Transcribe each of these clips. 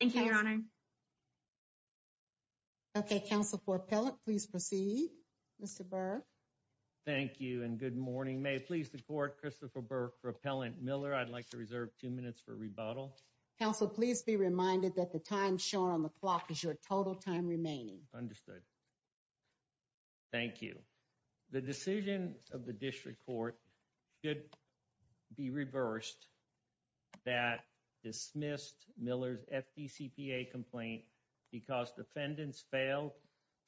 Thank you, Your Honor. Okay, counsel for appellate, please proceed, Mr. Burke. Thank you and good morning. May it please the court, Christopher Burke for Appellant Miller. I'd like to reserve two minutes for rebuttal. Counsel, please be reminded that the time shown on the clock is your total time remaining. Understood. Thank you. The decision of the DCPA complaint because defendants failed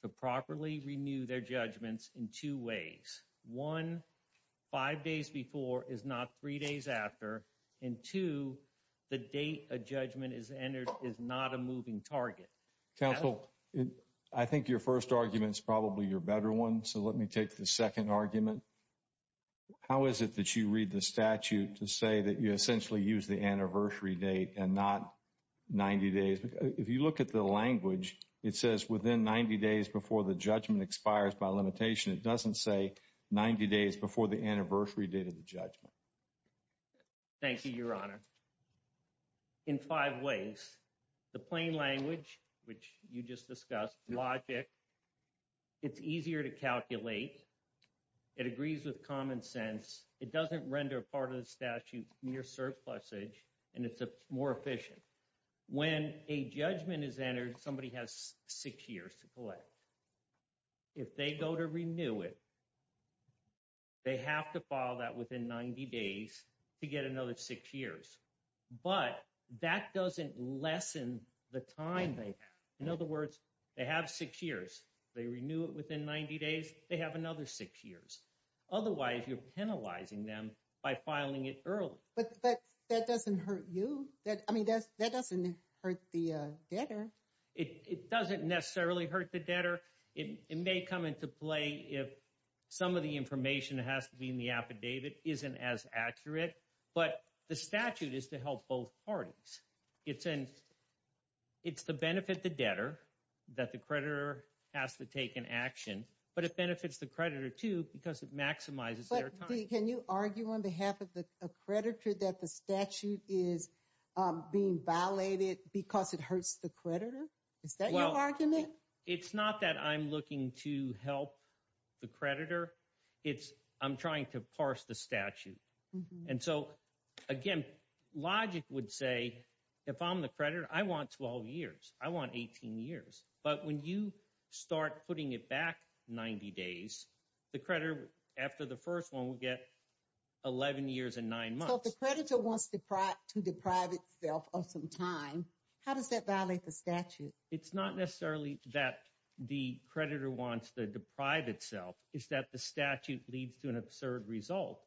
to properly renew their judgments in two ways. One, five days before is not three days after. And two, the date a judgment is entered is not a moving target. Counsel, I think your first argument is probably your better one. So let me take the second argument. How is it that you read the statute to say that you essentially use the anniversary date and not 90 days? If you look at the language, it says within 90 days before the judgment expires by limitation. It doesn't say 90 days before the anniversary date of the judgment. Thank you, Your Honor. In five ways, the plain language, which you just discussed, logic, it's easier to calculate. It agrees with common sense. It doesn't render part of the mere surplusage. And it's more efficient. When a judgment is entered, somebody has six years to collect. If they go to renew it, they have to file that within 90 days to get another six years. But that doesn't lessen the time they have. In other words, they have six years. They renew it within 90 days, they have another six years. Otherwise, you're penalizing them by filing it early. But that doesn't hurt you. I mean, that doesn't hurt the debtor. It doesn't necessarily hurt the debtor. It may come into play if some of the information that has to be in the affidavit isn't as accurate. But the statute is to help both parties. It's to benefit the debtor that the creditor has to take an action. But it benefits the creditor, too, because it maximizes their time. But, Dee, can you argue on behalf of the creditor that the statute is being violated because it hurts the creditor? Is that your argument? It's not that I'm looking to help the creditor. It's I'm trying to parse the statute. And so, again, logic would say, if I'm the creditor, I want 12 years. I want 18 years. But when you start putting it back 90 days, the creditor, after the first one, will get 11 years and nine months. So, if the creditor wants to deprive itself of some time, how does that violate the statute? It's not necessarily that the creditor wants to deprive itself. It's that the statute leads to an absurd result.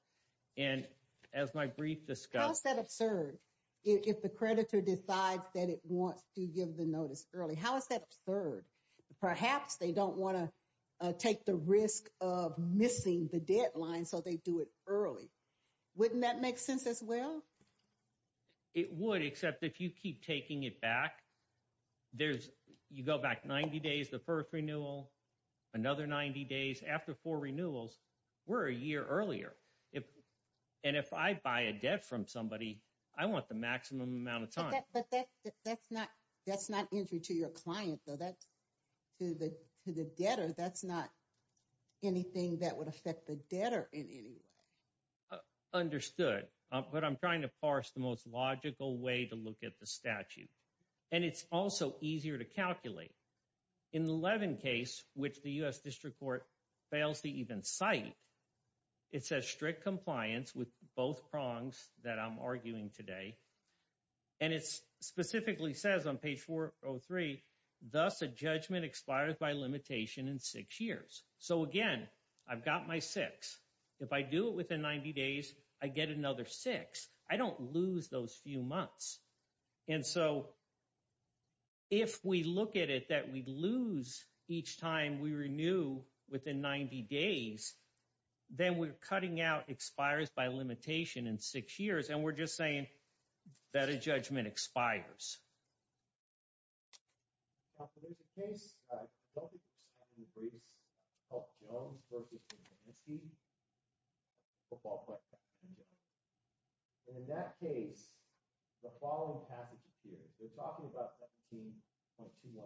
And as my brief discussed... How is that absurd if the creditor decides that it wants to give the notice early? How is that absurd? Perhaps they don't want to take the risk of missing the deadline, so they do it early. Wouldn't that make sense as well? It would, except if you keep taking it back, there's you go back 90 days, the first renewal, another 90 days, after four renewals, we're a year earlier. And if I buy a debt from somebody, I want the maximum amount of time. But that's not entry to your client, though. That's to the debtor. That's not anything that would affect the debtor in any way. Understood. But I'm trying to parse the most logical way to look at the statute. And it's also easier to calculate. In the Levin case, which the U.S. District Court fails to even cite, it says strict compliance with both prongs that I'm arguing today. And it specifically says on page 403, thus a judgment expires by limitation in six years. So again, I've got my six. If I do it within 90 days, I get another six. I don't lose those few 90 days. Then we're cutting out expires by limitation in six years. And we're just saying that a judgment expires. So there's a case of Jones versus Urbanski. And in that case, the following passage appears. They're talking about 17.21.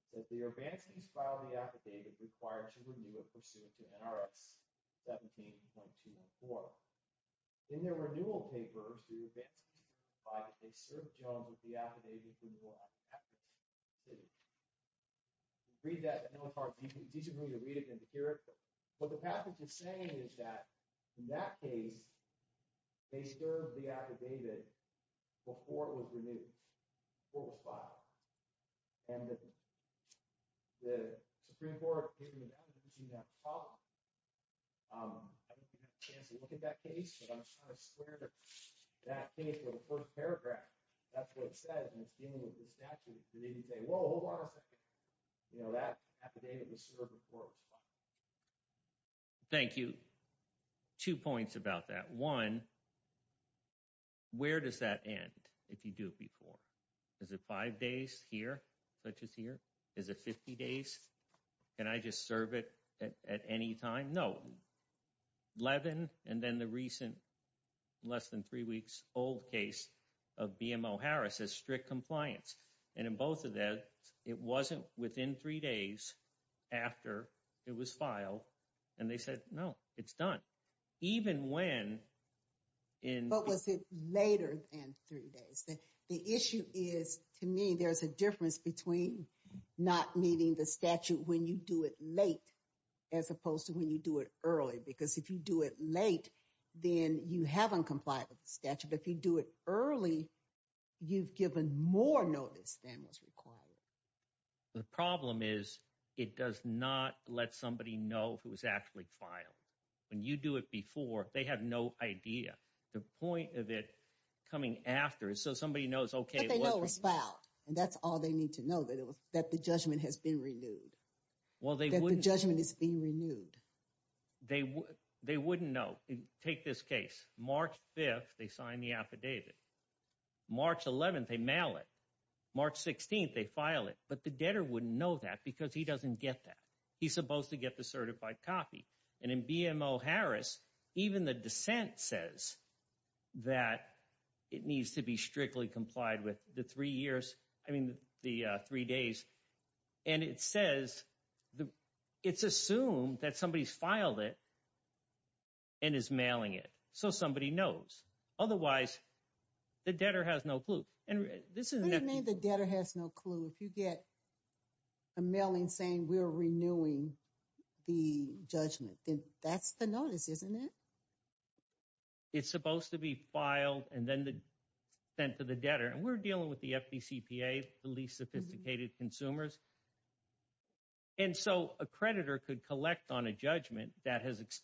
It says the Urbanskis filed the affidavit required to renew it pursuant to NRX 17.214. In their renewal papers, the Urbanskis provide that they served Jones with the affidavit before it was passed. Read that. I know it's hard for you to disagree to read it and to hear it. But what the passage is saying is that in that case, they served the affidavit before it was renewed, before it was filed. And the Supreme Court appeared to have that problem. I don't think you have a chance to look at that case, but I'm just trying to swear that that case or the first paragraph, that's what it says. And it's dealing with the statute. They didn't say, whoa, hold on a second. You know, that affidavit was served before it was filed. Thank you. Two points about that. One, where does that end if you do it before? Is it five days here, such as here? Is it 50 days? Can I just serve it at any time? No. Eleven, and then the recent less than three weeks old case of BMO Harris as strict compliance. And in both of that, it wasn't within three days after it was filed. And they said, no, it's done. Even when in- But was it later than three days? The issue is, to me, there's a difference between not meeting the statute when you do it late, as opposed to when you do it early. Because if you do it late, then you haven't complied with the statute. If you do it early, you've given more notice than was required. The problem is, it does not let somebody know if it was actually filed. When you do it before, they have no idea. The point of it coming after is so somebody knows, okay, what was- But they know it was filed, and that's all they need to know, that the judgment has been renewed. Well, they wouldn't- That the judgment is being renewed. They wouldn't know. Take this case. March 5th, they sign the affidavit. March 11th, they mail it. March 16th, they file it. But the debtor wouldn't know that because he doesn't get that. He's supposed to get the certified copy. And in BMO Harris, even the dissent says that it needs to be strictly complied with the three years, I mean, the three days. And it says, it's assumed that somebody's filed it and is mailing it. So somebody knows. Otherwise, the debtor has no clue. And this is- What do you mean the debtor has no clue? If you get a mailing saying we're renewing the judgment, then that's the notice, isn't it? It's supposed to be filed and then sent to the debtor. And we're dealing with the FDCPA, the least sophisticated consumers. And so, a creditor could collect on a judgment that has that's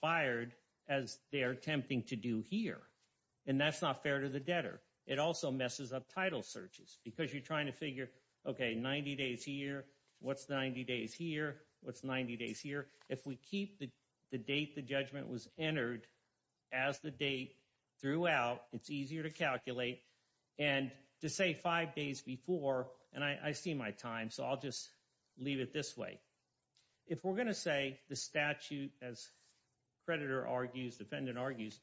not fair to the debtor. It also messes up title searches because you're trying to figure, okay, 90 days here. What's 90 days here? What's 90 days here? If we keep the date the judgment was entered as the date throughout, it's easier to calculate. And to say five days before, and I see my time, so I'll just leave it this way. If we're going to say the statute, as defendant argues,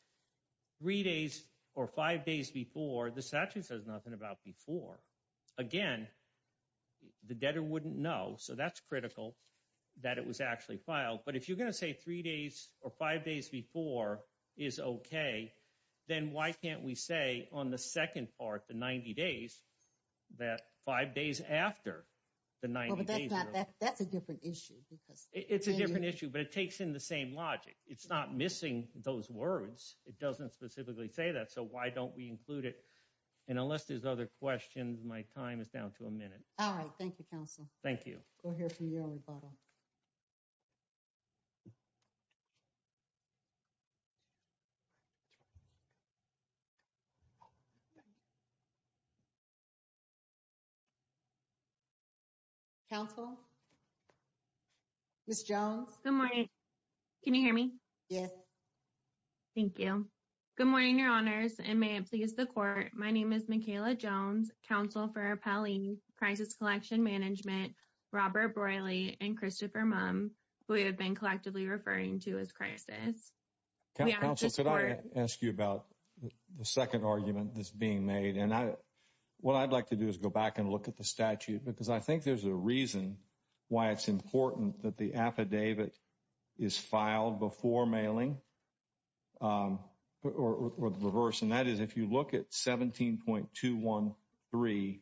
three days or five days before, the statute says nothing about before. Again, the debtor wouldn't know. So that's critical that it was actually filed. But if you're going to say three days or five days before is okay, then why can't we say on the second part, the 90 days, that five days after the 90 days- That's a different issue because- It's not missing those words. It doesn't specifically say that. So, why don't we include it? And unless there's other questions, my time is down to a minute. All right. Thank you, counsel. Thank you. We'll hear from you on rebuttal. Counsel? Ms. Jones? Good morning. Can you hear me? Yes. Thank you. Good morning, your honors, and may it please the court. My name is Mikayla Jones, counsel for Appellee Crisis Collection Management, Robert Broilie, and Christopher Mumm, who we have been collectively referring to as crisis. Counsel, could I ask you about the second argument that's being made? And what I'd like to do is go back and look at the statute because I think there's a reason why it's important that the four-mailing or the reverse, and that is if you look at 17.213,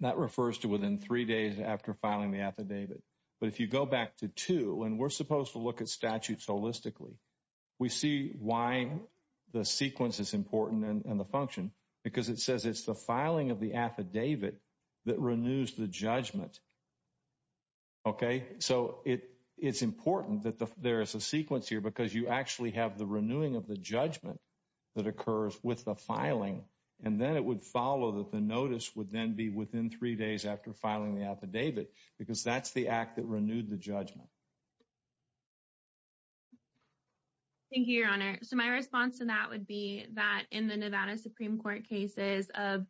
that refers to within three days after filing the affidavit. But if you go back to two, and we're supposed to look at statutes holistically, we see why the sequence is important and the function because it says it's the filing of the affidavit that renews the judgment. Okay? So, it's important that there is a sequence here because you actually have the renewing of the judgment that occurs with the filing. And then it would follow that the notice would then be within three days after filing the affidavit because that's the act that renewed the judgment. Thank you, your honor. So, my response to that would be that in the Nevada Supreme Court cases of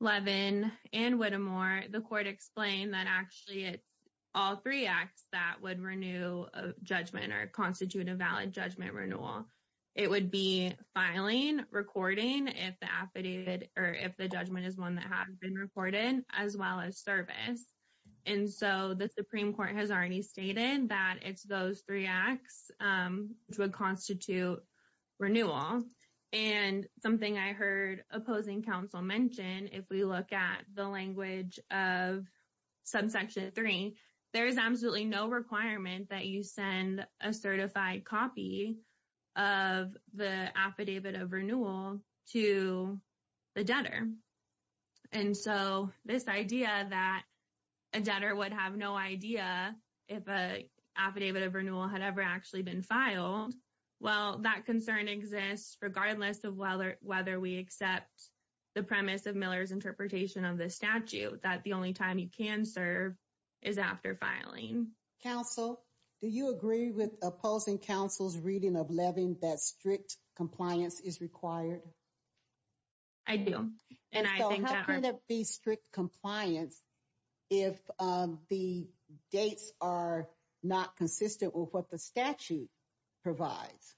Levin and Whittemore, the court explained that actually it's all three acts that would renew a judgment or constitute a valid judgment renewal. It would be filing, recording if the affidavit or if the judgment is one that has been recorded, as well as service. And so, the Supreme Court has already stated that it's those three acts which would constitute renewal. And something I heard opposing counsel mention, if we look at the language of Section 3, there is absolutely no requirement that you send a certified copy of the affidavit of renewal to the debtor. And so, this idea that a debtor would have no idea if an affidavit of renewal had ever actually been filed, well, that concern exists regardless of whether we accept the premise of Miller's interpretation of the statute, that the only time you can serve is after filing. Counsel, do you agree with opposing counsel's reading of Levin that strict compliance is required? I do. And I think that our How can it be strict compliance if the dates are not consistent with what the statute provides?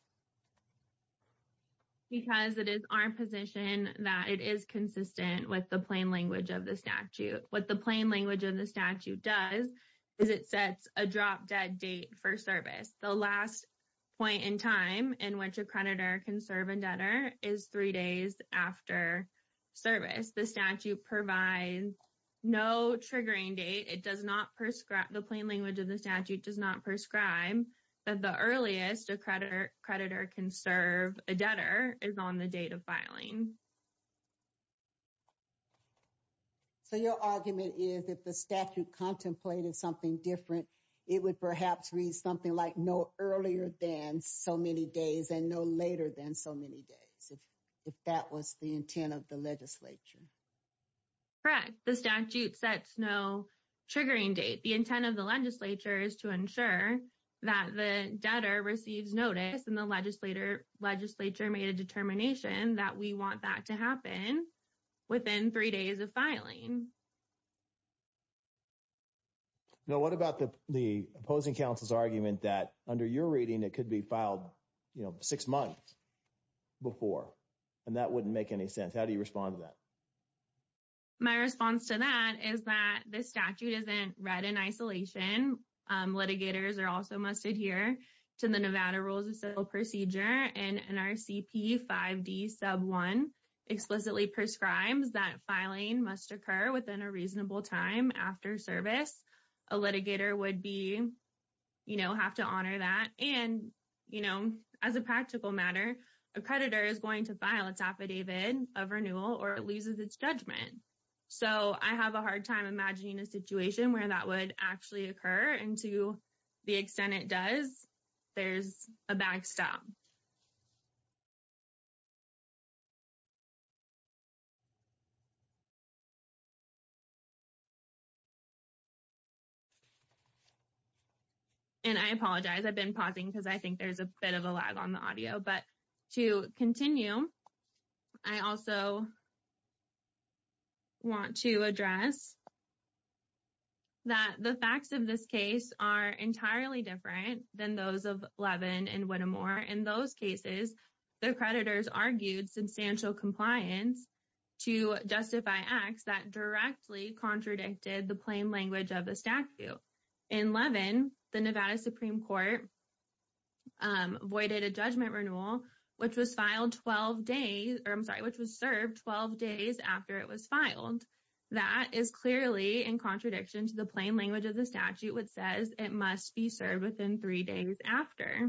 Because it is our position that it is consistent with the plain language of the statute. What the plain language of the statute does is it sets a drop-dead date for service. The last point in time in which a creditor can serve a debtor is three days after service. The statute provides no triggering date. It does not prescribe, the plain language of the statute does not prescribe that the earliest a creditor can serve a debtor is on the date of filing. So, your argument is if the statute contemplated something different, it would perhaps read something like no earlier than so many days and no later than so many days, if that was the intent of the legislature. Correct. The statute sets no triggering date. The intent of the legislature is to ensure that the debtor receives notice and the legislature made a determination that we want that to happen within three days of filing. Now, what about the opposing counsel's argument that under your reading, it could be filed six months before and that wouldn't make any sense? How do you respond to that? My response to that is that the statute isn't read in isolation. Litigators are also must adhere to the Nevada Rules of Civil Procedure and NRCP 5D sub 1 explicitly prescribes that filing must occur within a reasonable time after service. A litigator would be, you know, have to honor that. And, you know, as a practical matter, a creditor is going to file its affidavit of renewal or it judgment. So, I have a hard time imagining a situation where that would actually occur. And to the extent it does, there's a backstop. And I apologize, I've been pausing because I think there's a bit of a lag on the audio. But to continue, I also want to address that the facts of this case are entirely different than those of Levin and Whittemore. In those cases, the creditors argued substantial compliance to justify acts that directly contradicted the voided a judgment renewal, which was filed 12 days, or I'm sorry, which was served 12 days after it was filed. That is clearly in contradiction to the plain language of the statute which says it must be served within three days after.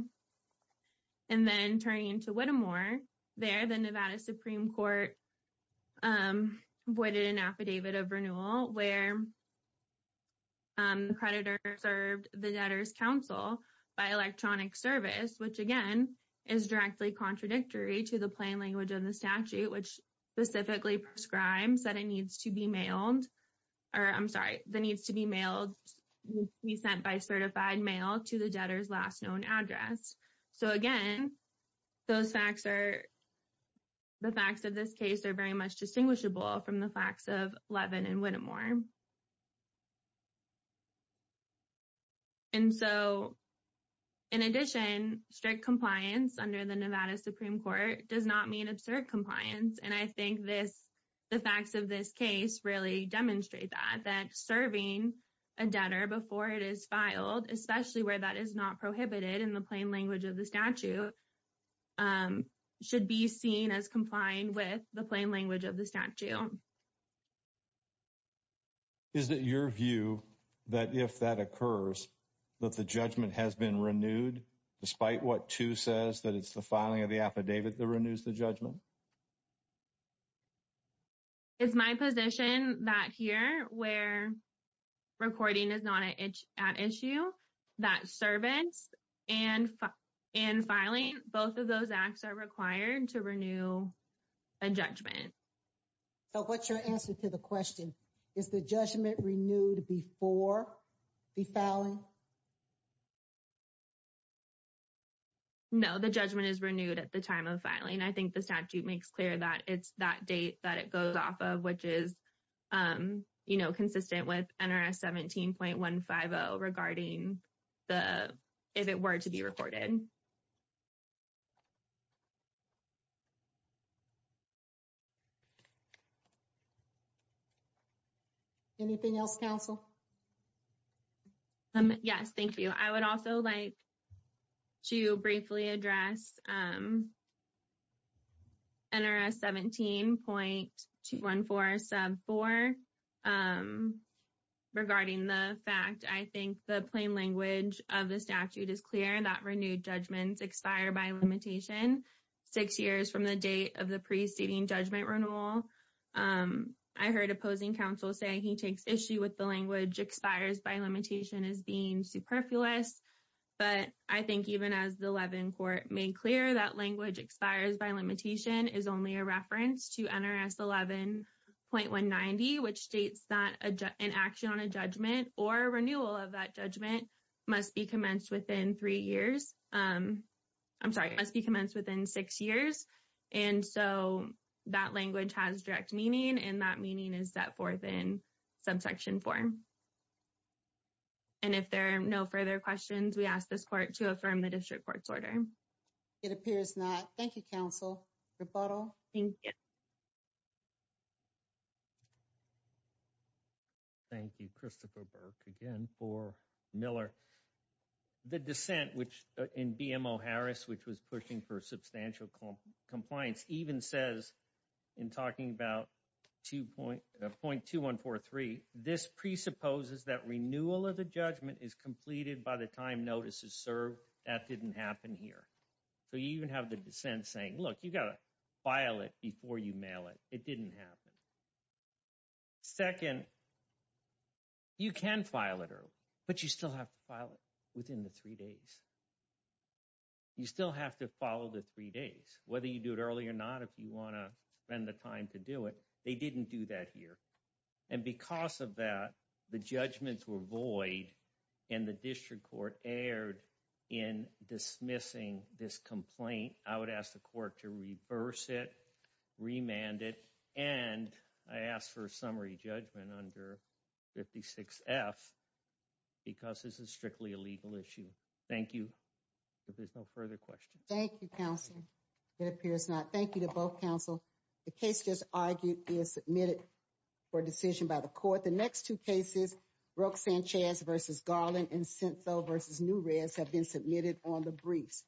And then turning to Whittemore, there the Nevada Supreme Court voided an affidavit of renewal where the creditor served the debtor's counsel by electronic service, which again, is directly contradictory to the plain language of the statute, which specifically prescribes that it needs to be mailed, or I'm sorry, that it needs to be mailed, be sent by certified mail to the debtor's last known address. So, again, those facts are, the facts of this case are very much distinguishable from the facts of Levin and Whittemore. And so, in addition, strict compliance under the Nevada Supreme Court does not mean absurd compliance. And I think this, the facts of this case really demonstrate that, that serving a debtor before it is filed, especially where that is not prohibited in the plain language of the statute, should be seen as complying with the plain language of the statute. Is it your view that if that occurs, that the judgment has been renewed despite what too says that it's the filing of the affidavit that renews the judgment? It's my position that here where recording is not an issue, that servants and filing, both of those acts are required to renew a judgment. So, what's your answer to the question? Is the judgment renewed before the filing? No, the judgment is renewed at the time of filing. I think the statute makes clear that it's that date that it goes off of, which is, you know, consistent with NRS 17.150 regarding the, if it were to be recorded. Anything else, counsel? Yes, thank you. I would also like to briefly address NRS 17.214 sub 4 regarding the fact I think the plain language of the statute is clear that renewed judgments expire by limitation six years from the date of the preceding judgment renewal. I heard opposing counsel say he takes issue with the language expires by limitation as being superfluous. But I think even as the Levin court made clear that language expires by limitation is only a reference to NRS 11.190, which states that an action on a judgment or renewal of that judgment must be commenced within three years. I'm sorry, must be commenced within six years. And so, that language has direct meaning and that meaning is set forth in subsection four. And if there are no further questions, we ask this court to affirm the district court's order. It appears not. Thank you, counsel. Rebuttal? Thank you. Christopher Burke again for Miller. The dissent which in BMO Harris, which was pushing for substantial compliance even says in talking about 2.2143, this presupposes that renewal of the judgment is completed by the time notice is served. That didn't happen here. So, you even have the dissent saying, look, you got to file it before you mail it. It didn't happen. Second, you can file it, but you still have to file it within the three days. You still have to follow the three days, whether you do it early or not, if you want to spend the time to do it. They didn't do that here. And because of that, the judgments were void and the district court erred in dismissing this complaint. I would ask the court to reverse it, remand it, and I ask for a summary judgment under 56F because this is strictly a legal issue. Thank you. If there's no further questions. Thank you, counsel. It appears not. Thank you to both counsel. The case just argued is submitted for decision by the court. The next two cases, Roque-Sanchez versus Garland and Sento versus Newres have been submitted on the briefs.